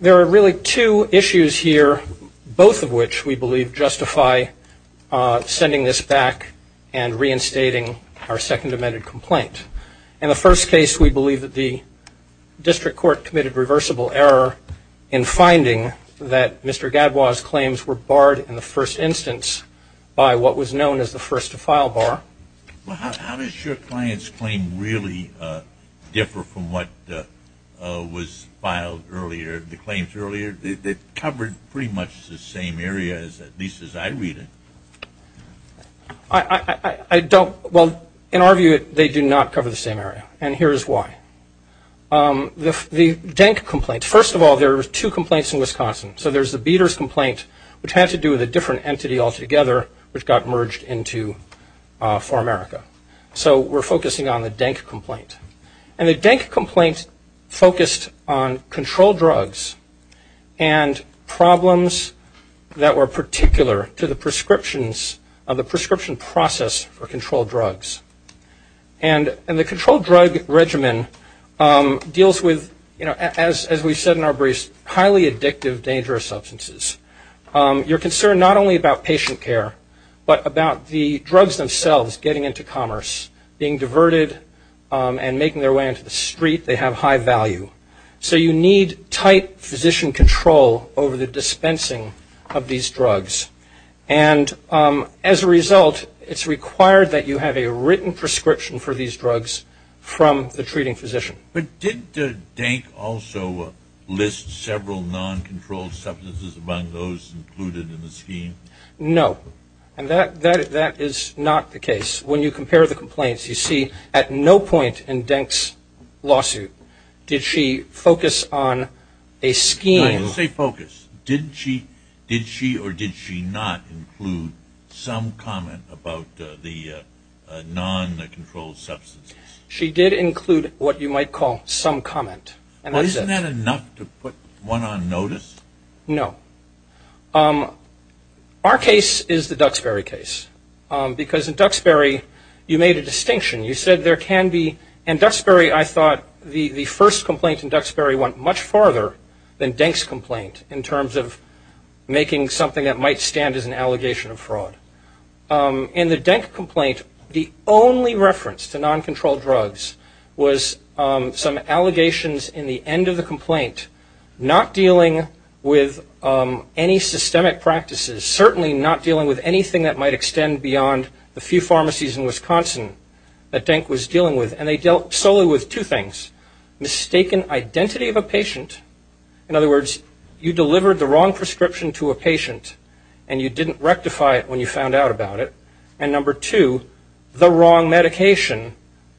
There are really two issues here, both of which we believe justify sending this back and reinstating our second amended complaint. In the first case, we believe that the district court committed reversible error in finding that Mr. Gadbois' claims were barred in the first instance by what was known as the first to file bar. Well, how does your client's claim really differ from what was filed earlier, the claims earlier? They covered pretty much the same area, at least as I read it. I don't – well, in our view, they do not cover the same area, and here's why. The Jank complaint, first of all, there were two complaints in Wisconsin. So there's the Beaders complaint, which had to do with a different entity altogether, which got merged into PharMerica. So we're focusing on the Jank complaint. And the Jank complaint focused on controlled drugs and problems that were particular to the prescriptions of the prescription process for controlled drugs. And the controlled drug regimen deals with, as we said in our briefs, highly addictive, dangerous substances. You're concerned not only about patient care, but about the drugs themselves getting into commerce, being diverted and making their way into the street. They have high value. So you need tight physician control over the dispensing of these drugs. And as a result, it's required that you have a written prescription for these drugs from the treating physician. But didn't Jank also list several non-controlled substances among those included in the scheme? No, and that is not the case. When you compare the complaints, you see at no point in Jank's lawsuit did she focus on a scheme. Say focus. Did she or did she not include some comment about the non-controlled substances? She did include what you might call some comment. Isn't that enough to put one on notice? No. Our case is the Duxbury case, because in Duxbury you made a distinction. You said there can be, in Duxbury I thought the first complaint in Duxbury went much farther than Jank's complaint in terms of making something that might stand as an allegation of fraud. In the Jank complaint, the only reference to non-controlled drugs was some allegations in the end of the complaint, not dealing with any systemic practices, certainly not dealing with anything that might extend beyond the few pharmacies in Wisconsin that Jank was dealing with. And they dealt solely with two things, mistaken identity of a patient. In other words, you delivered the wrong prescription to a patient and you didn't rectify it when you found out about it. And number two, the wrong medication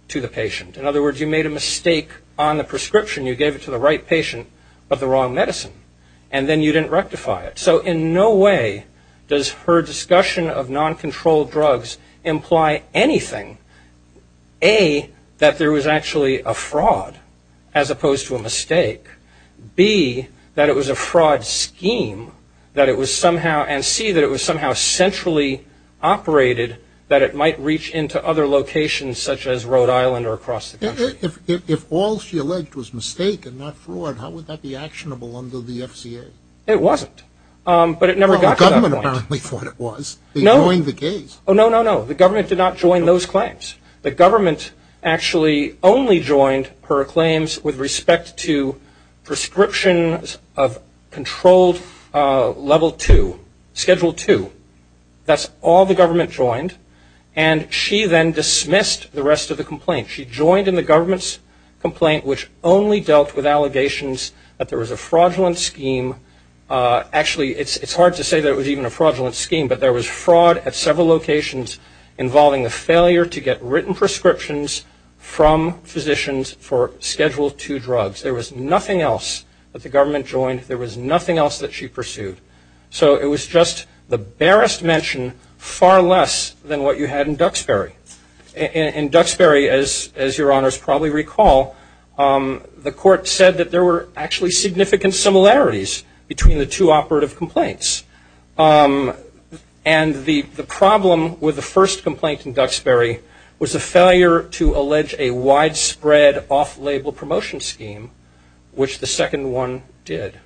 to the patient. In other words, you made a mistake on the prescription. You gave it to the right patient, but the wrong medicine. And then you didn't rectify it. So in no way does her discussion of non-controlled drugs imply anything. A, that there was actually a fraud as opposed to a mistake. B, that it was a fraud scheme, and C, that it was somehow centrally operated, that it might reach into other locations such as Rhode Island or across the country. If all she alleged was mistake and not fraud, how would that be actionable under the FCA? It wasn't. But it never got to that point. The government apparently thought it was. They joined the case. Oh, no, no, no. The government did not join those claims. The government actually only joined her claims with respect to prescriptions of controlled level two, schedule two. That's all the government joined. And she then dismissed the rest of the complaint. She joined in the government's complaint, which only dealt with allegations that there was a fraudulent scheme. Actually, it's hard to say that it was even a fraudulent scheme, but there was fraud at several locations involving a failure to get written prescriptions from physicians for schedule two drugs. There was nothing else that the government joined. There was nothing else that she pursued. So it was just the barest mention, far less than what you had in Duxbury. In Duxbury, as your honors probably recall, the court said that there were actually significant similarities between the two operative complaints. And the problem with the first complaint in Duxbury was a failure to allege a widespread off-label promotion scheme, which the second one did.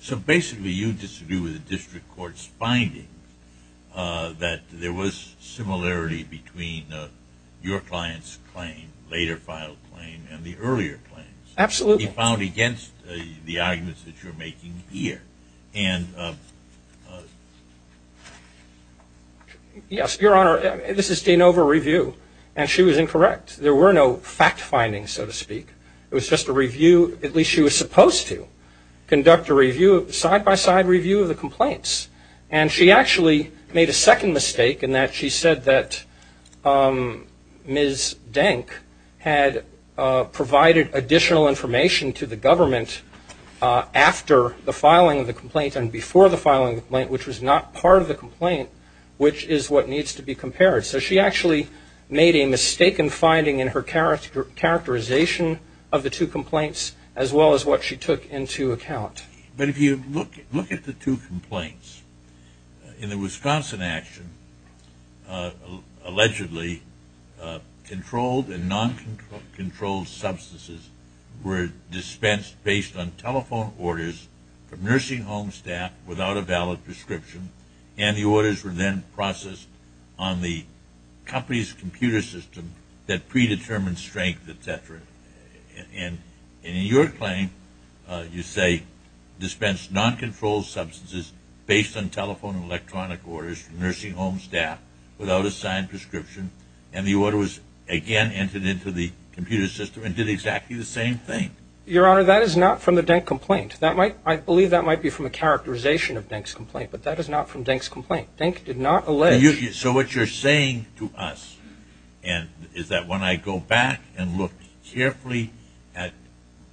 So basically, you disagree with the district court's finding that there was similarity between your client's claim, later filed claim, and the earlier claims. Absolutely. You found against the arguments that you're making here. Yes, your honor. This is de novo review, and she was incorrect. There were no fact findings, so to speak. It was just a review, at least she was supposed to conduct a side-by-side review of the complaints. And she actually made a second mistake in that she said that Ms. Denk had provided additional information to the government after the filing of the complaint and before the filing of the complaint, which was not part of the complaint, So she actually made a mistaken finding in her characterization of the two complaints, as well as what she took into account. But if you look at the two complaints, in the Wisconsin action, allegedly, controlled and non-controlled substances were dispensed based on telephone orders from nursing home staff without a valid And the orders were then processed on the company's computer system that predetermined strength, etc. And in your claim, you say dispensed non-controlled substances based on telephone and electronic orders from nursing home staff without a signed prescription, and the order was again entered into the computer system and did exactly the same thing. Your honor, that is not from the Denk complaint. I believe that might be from a characterization of Denk's complaint, but that is not from Denk's complaint. Denk did not allege... So what you're saying to us is that when I go back and look carefully at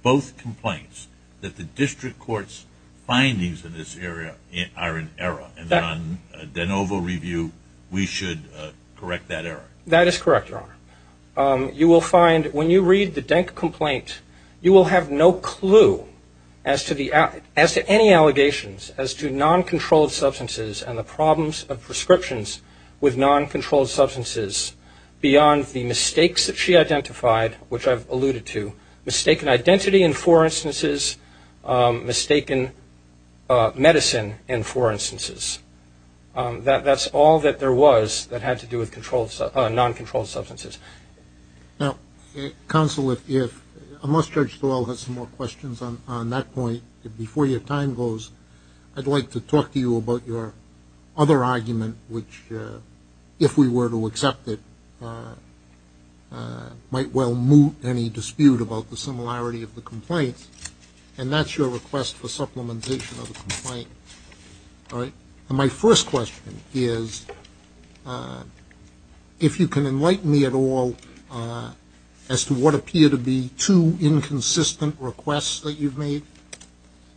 both complaints, that the district court's findings in this area are in error, and that on de novo review, we should correct that error. That is correct, your honor. You will find when you read the Denk complaint, you will have no clue as to any allegations as to non-controlled substances and the problems of prescriptions with non-controlled substances beyond the mistakes that she identified, which I've alluded to, mistaken identity in four instances, mistaken medicine in four instances. That's all that there was that had to do with non-controlled substances. Now, counsel, unless Judge Dwell has some more questions on that point, before your time goes, I'd like to talk to you about your other argument, which, if we were to accept it, might well moot any dispute about the similarity of the complaints, and that's your request for supplementation of the complaint. My first question is, if you can enlighten me at all as to what appear to be two inconsistent requests that you've made.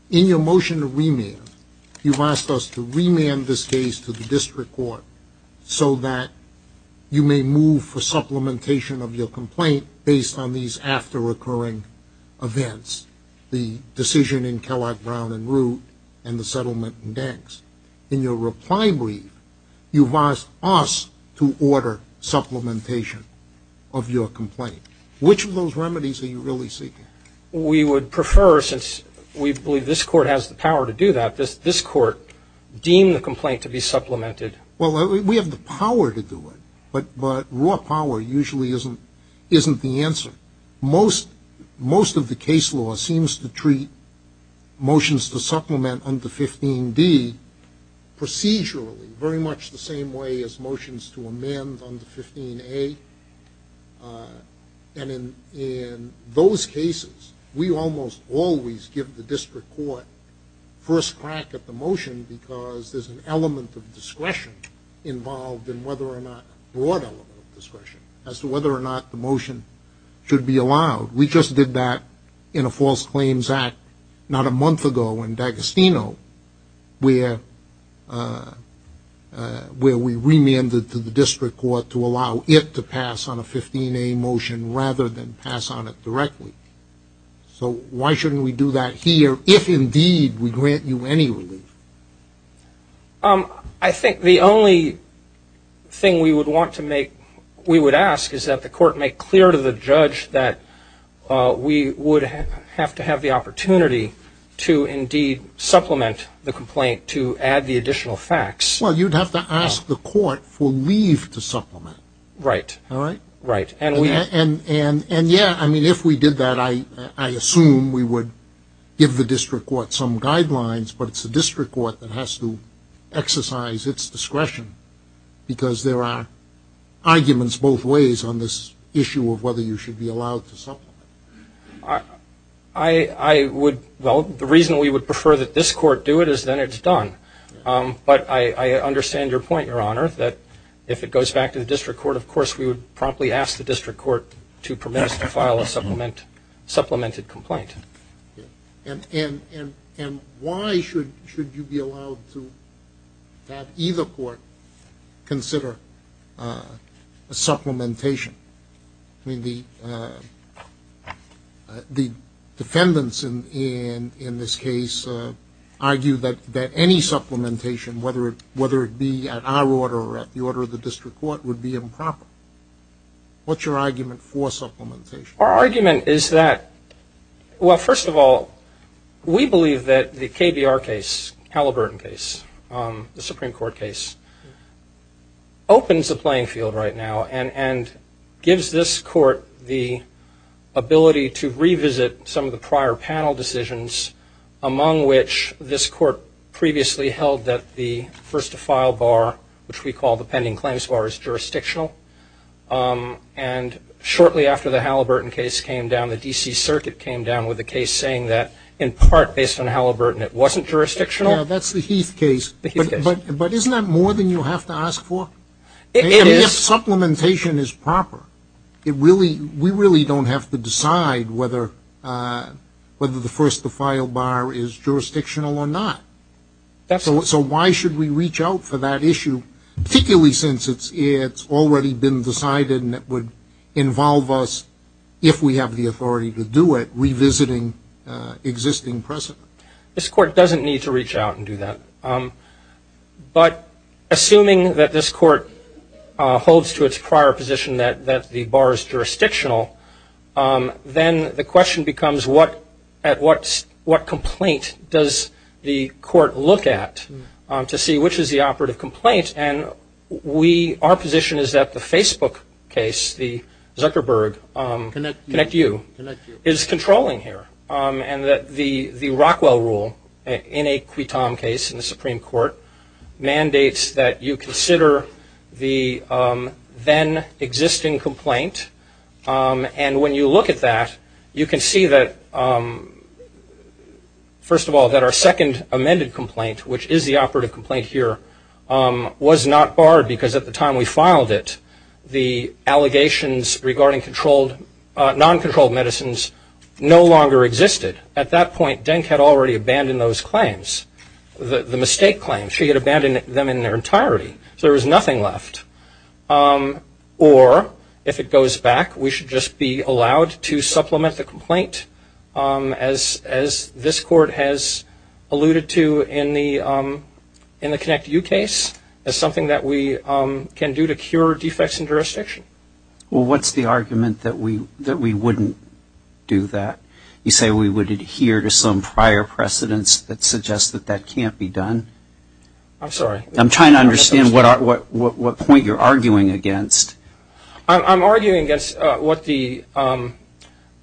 In your motion to remand, you've asked us to remand this case to the district court so that you may move for supplementation of your complaint based on these after-occurring events, the decision in Kellogg Brown and Root and the settlement in Denks. In your reply brief, you've asked us to order supplementation of your complaint. Which of those remedies are you really seeking? We would prefer, since we believe this court has the power to do that, this court deem the complaint to be supplemented. Well, we have the power to do it, but raw power usually isn't the answer. Most of the case law seems to treat motions to supplement under 15D procedurally, very much the same way as motions to amend under 15A. And in those cases, we almost always give the district court first crack at the motion because there's an element of discretion involved in whether or not, a broad element of discretion, as to whether or not the motion should be allowed. We just did that in a false claims act not a month ago in D'Agostino, where we remanded to the district court to allow it to pass on a 15A motion rather than pass on it directly. So why shouldn't we do that here if indeed we grant you any relief? I think the only thing we would want to make, we would ask, is that the court make clear to the judge that we would have to have the opportunity to indeed supplement the complaint to add the additional facts. Well, you'd have to ask the court for leave to supplement. Right. Right. And, yeah, I mean, if we did that, I assume we would give the district court some guidelines, but it's the district court that has to exercise its discretion because there are arguments both ways on this issue of whether you should be allowed to supplement. I would, well, the reason we would prefer that this court do it is then it's done. But I understand your point, Your Honor, that if it goes back to the district court, then, of course, we would promptly ask the district court to permit us to file a supplemented complaint. And why should you be allowed to have either court consider a supplementation? I mean, the defendants in this case argue that any supplementation, whether it be at our order or at the order of the district court, would be improper. What's your argument for supplementation? Our argument is that, well, first of all, we believe that the KBR case, Halliburton case, the Supreme Court case, opens a playing field right now and gives this court the ability to revisit some of the prior panel decisions among which this court previously held that the first to file bar, which we call the pending claims bar, is jurisdictional. And shortly after the Halliburton case came down, the D.C. Circuit came down with a case saying that in part based on Halliburton it wasn't jurisdictional. Yeah, that's the Heath case. The Heath case. But isn't that more than you have to ask for? It is. I mean, if supplementation is proper, we really don't have to decide whether the first to file bar is jurisdictional or not. So why should we reach out for that issue, particularly since it's already been decided and it would involve us, if we have the authority to do it, revisiting existing precedent? This court doesn't need to reach out and do that. But assuming that this court holds to its prior position that the bar is jurisdictional, then the question becomes what complaint does the court look at to see which is the operative complaint? And our position is that the Facebook case, the Zuckerberg Connect You, is controlling here. And that the Rockwell rule, in a Quitom case in the Supreme Court, mandates that you consider the then existing complaint. And when you look at that, you can see that, first of all, that our second amended complaint, which is the operative complaint here, was not barred because at the time we filed it, the allegations regarding non-controlled medicines no longer existed. At that point, Denk had already abandoned those claims, the mistake claims. She had abandoned them in their entirety. So there was nothing left. Or, if it goes back, we should just be allowed to supplement the complaint, as this court has alluded to in the Connect You case, as something that we can do to cure defects in jurisdiction. Well, what's the argument that we wouldn't do that? You say we would adhere to some prior precedents that suggest that that can't be done? I'm sorry. I'm trying to understand what point you're arguing against. I'm arguing against what the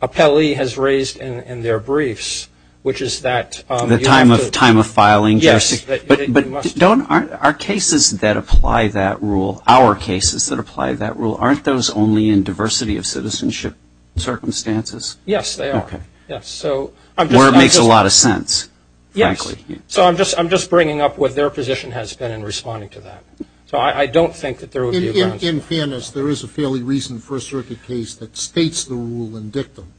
appellee has raised in their briefs, which is that you have to – The time of filing? Yes. But don't our cases that apply that rule, our cases that apply that rule, aren't those only in diversity of citizenship circumstances? Yes, they are. Okay. Or it makes a lot of sense, frankly. Yes. So I'm just bringing up what their position has been in responding to that. So I don't think that there would be – In fairness, there is a fairly recent First Circuit case that states the rule in dictum,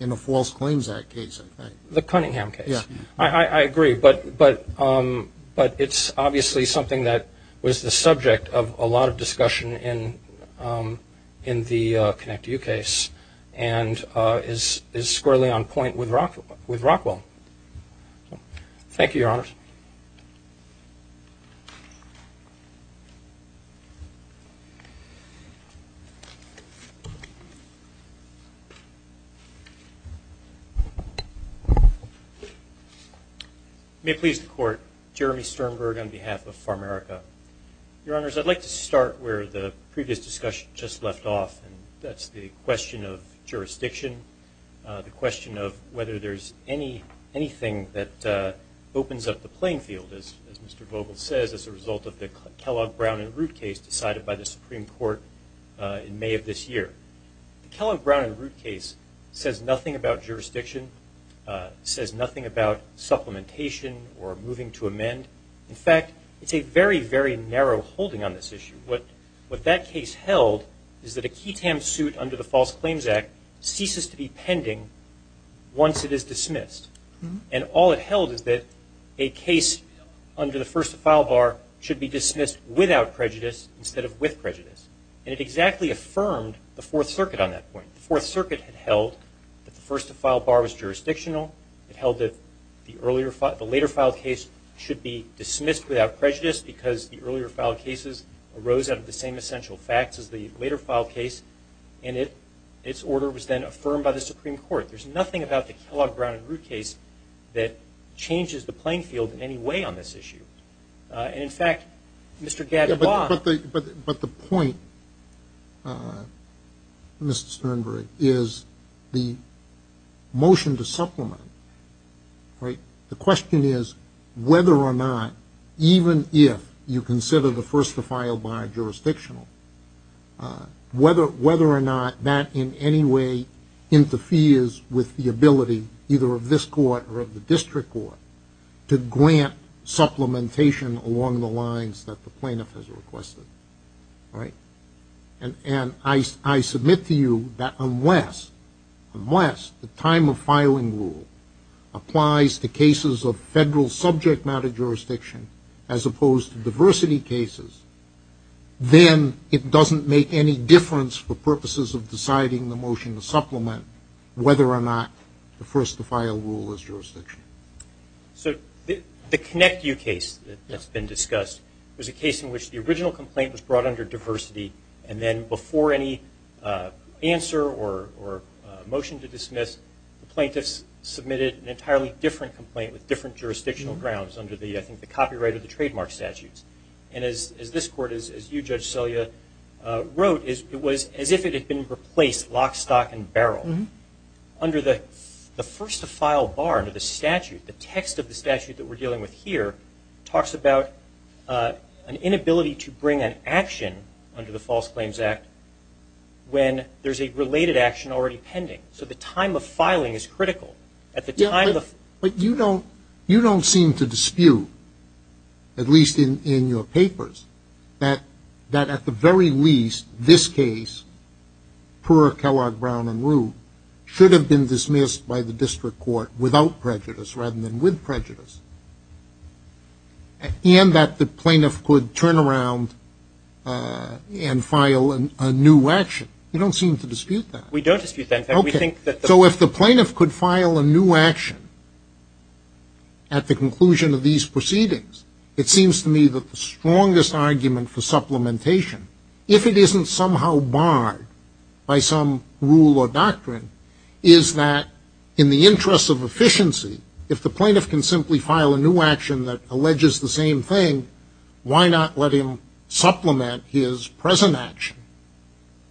in the False Claims Act case, I think. The Cunningham case. Yes. I agree. But it's obviously something that was the subject of a lot of discussion in the ConnectU case and is squarely on point with Rockwell. Thank you, Your Honors. May it please the Court, Jeremy Sternberg on behalf of Farmerica. Your Honors, I'd like to start where the previous discussion just left off, and that's the question of jurisdiction, the question of whether there's anything that opens up the playing field, as Mr. Vogel says, as a result of the Kellogg, Brown, and Root case decided by the Supreme Court in May of this year. The Kellogg, Brown, and Root case says nothing about jurisdiction, says nothing about supplementation or moving to amend. In fact, it's a very, very narrow holding on this issue. What that case held is that a QTAM suit under the False Claims Act ceases to be pending once it is dismissed. And all it held is that a case under the first-to-file bar should be dismissed without prejudice instead of with prejudice. And it exactly affirmed the Fourth Circuit on that point. The Fourth Circuit had held that the first-to-file bar was jurisdictional. It held that the later-filed case should be dismissed without prejudice because the earlier-filed cases arose out of the same essential facts as the later-filed case, and its order was then affirmed by the Supreme Court. There's nothing about the Kellogg, Brown, and Root case that changes the playing field in any way on this issue. And, in fact, Mr. Gadelbach. But the point, Mr. Sternberg, is the motion to supplement, right, the question is whether or not, even if you consider the first-to-file bar jurisdictional, whether or not that in any way interferes with the ability either of this Court or of the District Court to grant supplementation along the lines that the plaintiff has requested. And I submit to you that unless the time-of-filing rule applies to cases of federal subject-matter jurisdiction as opposed to diversity cases, then it doesn't make any difference for purposes of deciding the motion to supplement whether or not the first-to-file rule is jurisdictional. So the ConnectU case that's been discussed was a case in which the original complaint was brought under diversity, and then before any answer or motion to dismiss, the plaintiffs submitted an entirely different complaint with different jurisdictional grounds under, I think, the copyright or the trademark statutes. And as this Court, as you, Judge Selya, wrote, it was as if it had been replaced lock, stock, and barrel. Under the first-to-file bar under the statute, the text of the statute that we're dealing with here talks about an inability to bring an action under the False Claims Act when there's a related action already pending. So the time-of-filing is critical. But you don't seem to dispute, at least in your papers, that at the very least, this case, per Kellogg, Brown, and Rue, should have been dismissed by the District Court without prejudice rather than with prejudice, and that the plaintiff could turn around and file a new action. You don't seem to dispute that. We don't dispute that. Okay. So if the plaintiff could file a new action at the conclusion of these proceedings, it seems to me that the strongest argument for supplementation, if it isn't somehow barred by some rule or doctrine, is that in the interest of efficiency, if the plaintiff can simply file a new action that alleges the same thing, why not let him supplement his present action,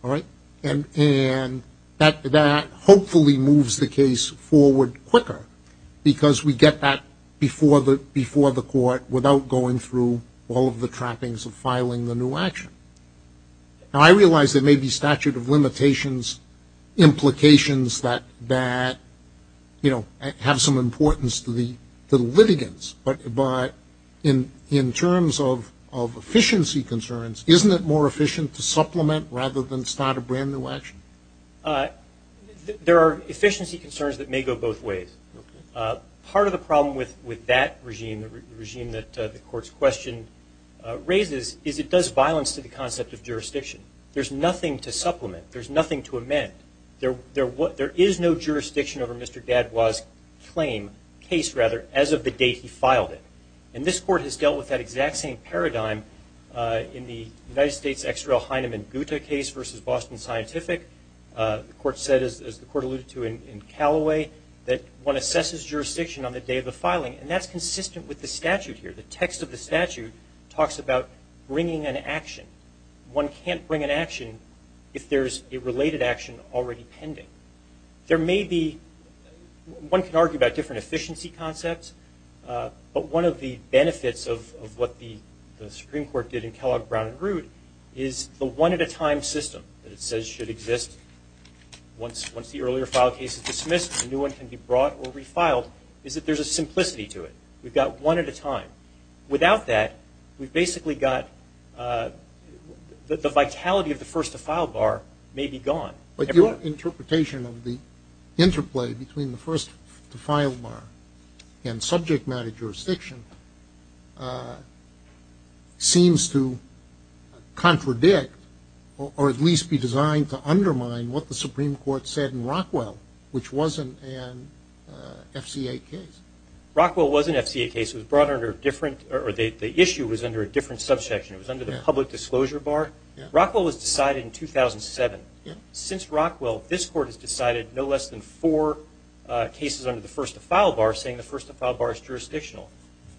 all right? And that hopefully moves the case forward quicker because we get that before the court without going through all of the trappings of filing the new action. Now, I realize there may be statute of limitations, implications that have some importance to the litigants, but in terms of efficiency concerns, isn't it more efficient to supplement rather than start a brand-new action? There are efficiency concerns that may go both ways. Part of the problem with that regime, the regime that the Court's question raises, is it does violence to the concept of jurisdiction. There's nothing to supplement. There's nothing to amend. There is no jurisdiction over Mr. Dadwa's claim, case rather, as of the date he filed it. And this Court has dealt with that exact same paradigm in the United States' X. Rel. Heinemann Guta case versus Boston Scientific. The Court said, as the Court alluded to in Calloway, that one assesses jurisdiction on the day of the filing, and that's consistent with the statute here. The text of the statute talks about bringing an action. One can't bring an action if there's a related action already pending. There may be one can argue about different efficiency concepts, but one of the benefits of what the Supreme Court did in Kellogg, Brown, and Root is the one-at-a-time system that it says should exist. Once the earlier file case is dismissed, a new one can be brought or refiled, is that there's a simplicity to it. We've got one at a time. Without that, we've basically got the vitality of the first-to-file bar may be gone. But your interpretation of the interplay between the first-to-file bar and subject matter jurisdiction seems to contradict or at least be designed to undermine what the Supreme Court said in Rockwell, which was an FCA case. Rockwell was an FCA case. It was brought under a different – or the issue was under a different subsection. It was under the public disclosure bar. Rockwell was decided in 2007. Since Rockwell, this court has decided no less than four cases under the first-to-file bar, saying the first-to-file bar is jurisdictional.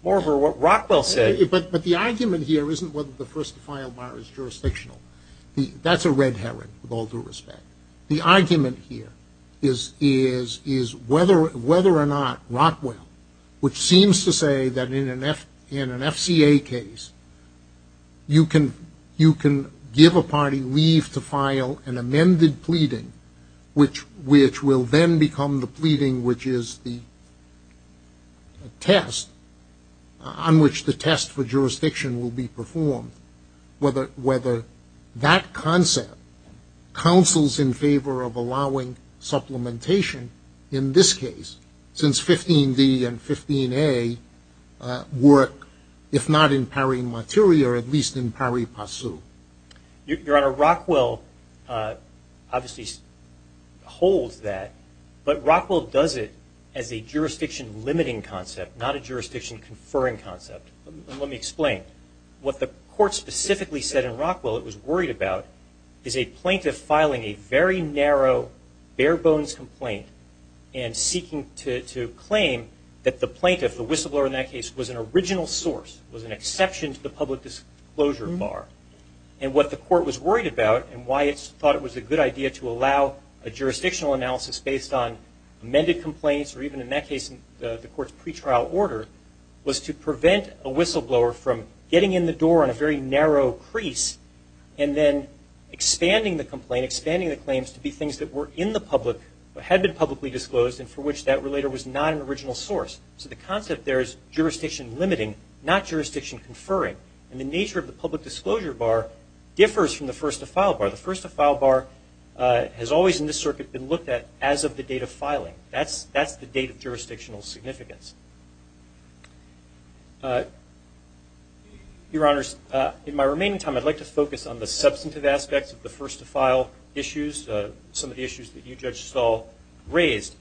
Moreover, what Rockwell said – But the argument here isn't whether the first-to-file bar is jurisdictional. That's a red herring with all due respect. The argument here is whether or not Rockwell, which seems to say that in an FCA case, you can give a party leave to file an amended pleading, which will then become the pleading which is the test on which the test for jurisdiction will be performed, whether that concept counsels in favor of allowing supplementation in this case. Since 15D and 15A work, if not in pari materi, or at least in pari passu. Your Honor, Rockwell obviously holds that, but Rockwell does it as a jurisdiction-limiting concept, not a jurisdiction-conferring concept. Let me explain. What the court specifically said in Rockwell it was worried about is a plaintiff filing a very narrow, bare-bones complaint and seeking to claim that the plaintiff, the whistleblower in that case, was an original source, was an exception to the public disclosure bar. What the court was worried about and why it thought it was a good idea to allow a jurisdictional analysis based on amended complaints or even in that case the court's pretrial order was to prevent a whistleblower from getting in the door on a very narrow crease and then expanding the complaint, expanding the claims to be things that were in the public, had been publicly disclosed and for which that relator was not an original source. So the concept there is jurisdiction-limiting, not jurisdiction-conferring. And the nature of the public disclosure bar differs from the first-to-file bar. The first-to-file bar has always in this circuit been looked at as of the date of filing. That's the date of jurisdictional significance. Your Honors, in my remaining time I'd like to focus on the substantive aspects of the first-to-file issues, some of the issues that you, Judge Stahl, raised.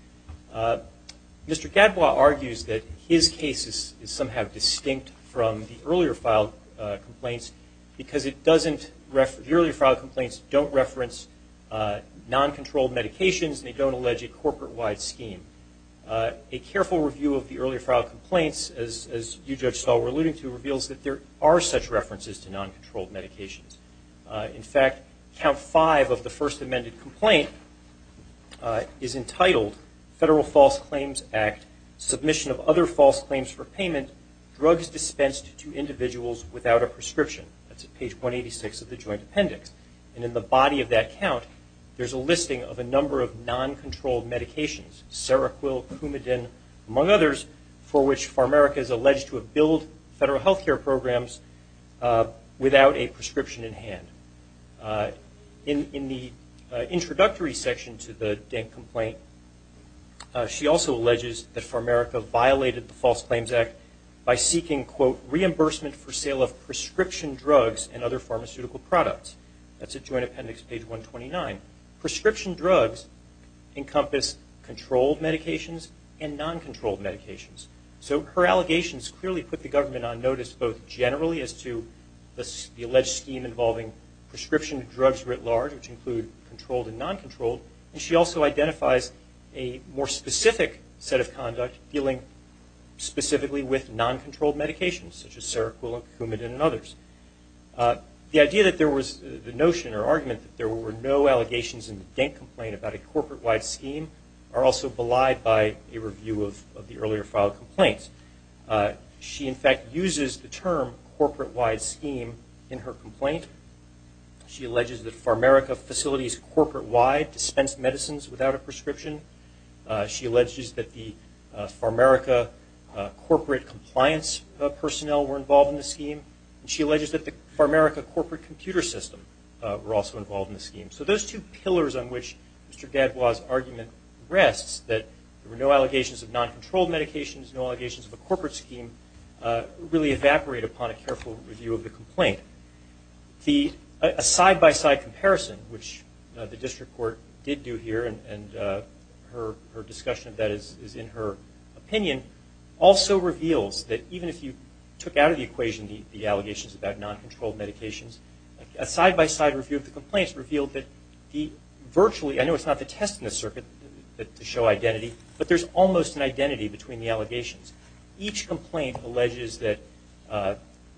Mr. Gadbois argues that his case is somehow distinct from the earlier-filed complaints because the earlier-filed complaints don't reference non-controlled medications and they don't allege a corporate-wide scheme. A careful review of the earlier-filed complaints, as you, Judge Stahl, were alluding to, reveals that there are such references to non-controlled medications. In fact, Count 5 of the first-amended complaint is entitled, Federal False Claims Act, Submission of Other False Claims for Payment, Drugs Dispensed to Individuals Without a Prescription. That's at page 186 of the Joint Appendix. And in the body of that count, there's a listing of a number of non-controlled medications, Seroquel, Coumadin, among others, for which Pharmairca is alleged to have billed federal health care programs without a prescription in hand. In the introductory section to the Danck complaint, she also alleges that Pharmairca violated the False Claims Act by seeking, quote, reimbursement for sale of prescription drugs and other pharmaceutical products. That's at Joint Appendix, page 129. Prescription drugs encompass controlled medications and non-controlled medications. So her allegations clearly put the government on notice, both generally as to the alleged scheme involving prescription drugs writ large, which include controlled and non-controlled, and she also identifies a more specific set of conduct dealing specifically with non-controlled medications, such as Seroquel and Coumadin and others. The idea that there was the notion or argument that there were no allegations in the Danck complaint about a corporate-wide scheme are also belied by a review of the earlier filed complaints. She, in fact, uses the term corporate-wide scheme in her complaint. She alleges that Pharmairca facilities corporate-wide dispense medicines without a prescription. She alleges that the Pharmairca corporate compliance personnel were involved in the scheme, and she alleges that the Pharmairca corporate computer system were also involved in the scheme. So those two pillars on which Mr. Gadbois' argument rests, that there were no allegations of non-controlled medications, no allegations of a corporate scheme, really evaporate upon a careful review of the complaint. A side-by-side comparison, which the district court did do here, and her discussion of that is in her opinion, also reveals that even if you took out of the equation the allegations about non-controlled medications, a side-by-side review of the complaints revealed that virtually, I know it's not the test in the circuit to show identity, but there's almost an identity between the allegations. Each complaint alleges that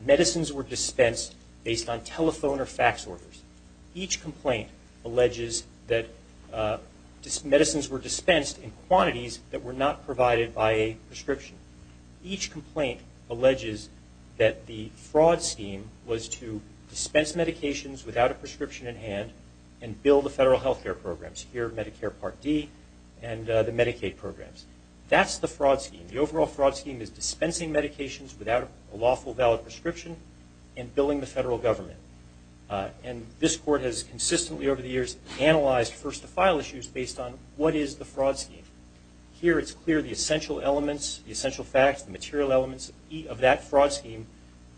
medicines were dispensed based on telephone or fax orders. Each complaint alleges that medicines were dispensed in quantities that were not provided by a prescription. Each complaint alleges that the fraud scheme was to dispense medications without a prescription in hand and bill the federal health care programs, here Medicare Part D and the Medicaid programs. That's the fraud scheme. The overall fraud scheme is dispensing medications without a lawful valid prescription and billing the federal government. And this court has consistently over the years analyzed first-to-file issues based on what is the fraud scheme. Here it's clear the essential elements, the essential facts, the material elements of that fraud scheme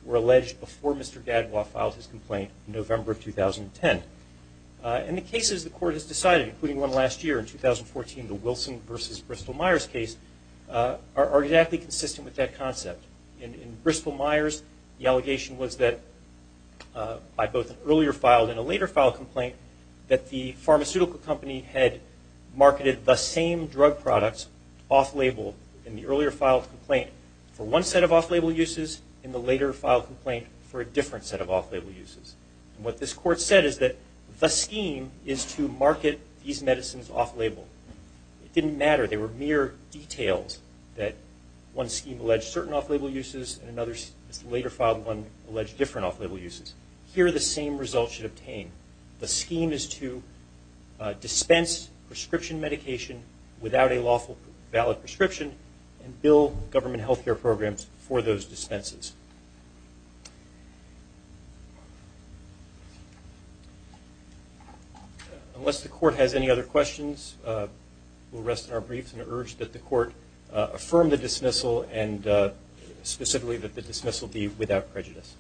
were alleged before Mr. Gadwa filed his complaint in November of 2010. And the cases the court has decided, including one last year in 2014, the Wilson v. Bristol Myers case, are exactly consistent with that concept. In Bristol Myers, the allegation was that by both an earlier file and a later file complaint, that the pharmaceutical company had marketed the same drug products off-label in the earlier file complaint for one set of off-label uses and the later file complaint for a different set of off-label uses. And what this court said is that the scheme is to market these medicines off-label. It didn't matter. They were mere details that one scheme alleged certain off-label uses and another later filed one alleged different off-label uses. Here the same result should obtain. The scheme is to dispense prescription medication without a lawful valid prescription and bill government health care programs for those dispenses. Unless the court has any other questions, we'll rest in our briefs and urge that the court affirm the dismissal and specifically that the dismissal be without prejudice.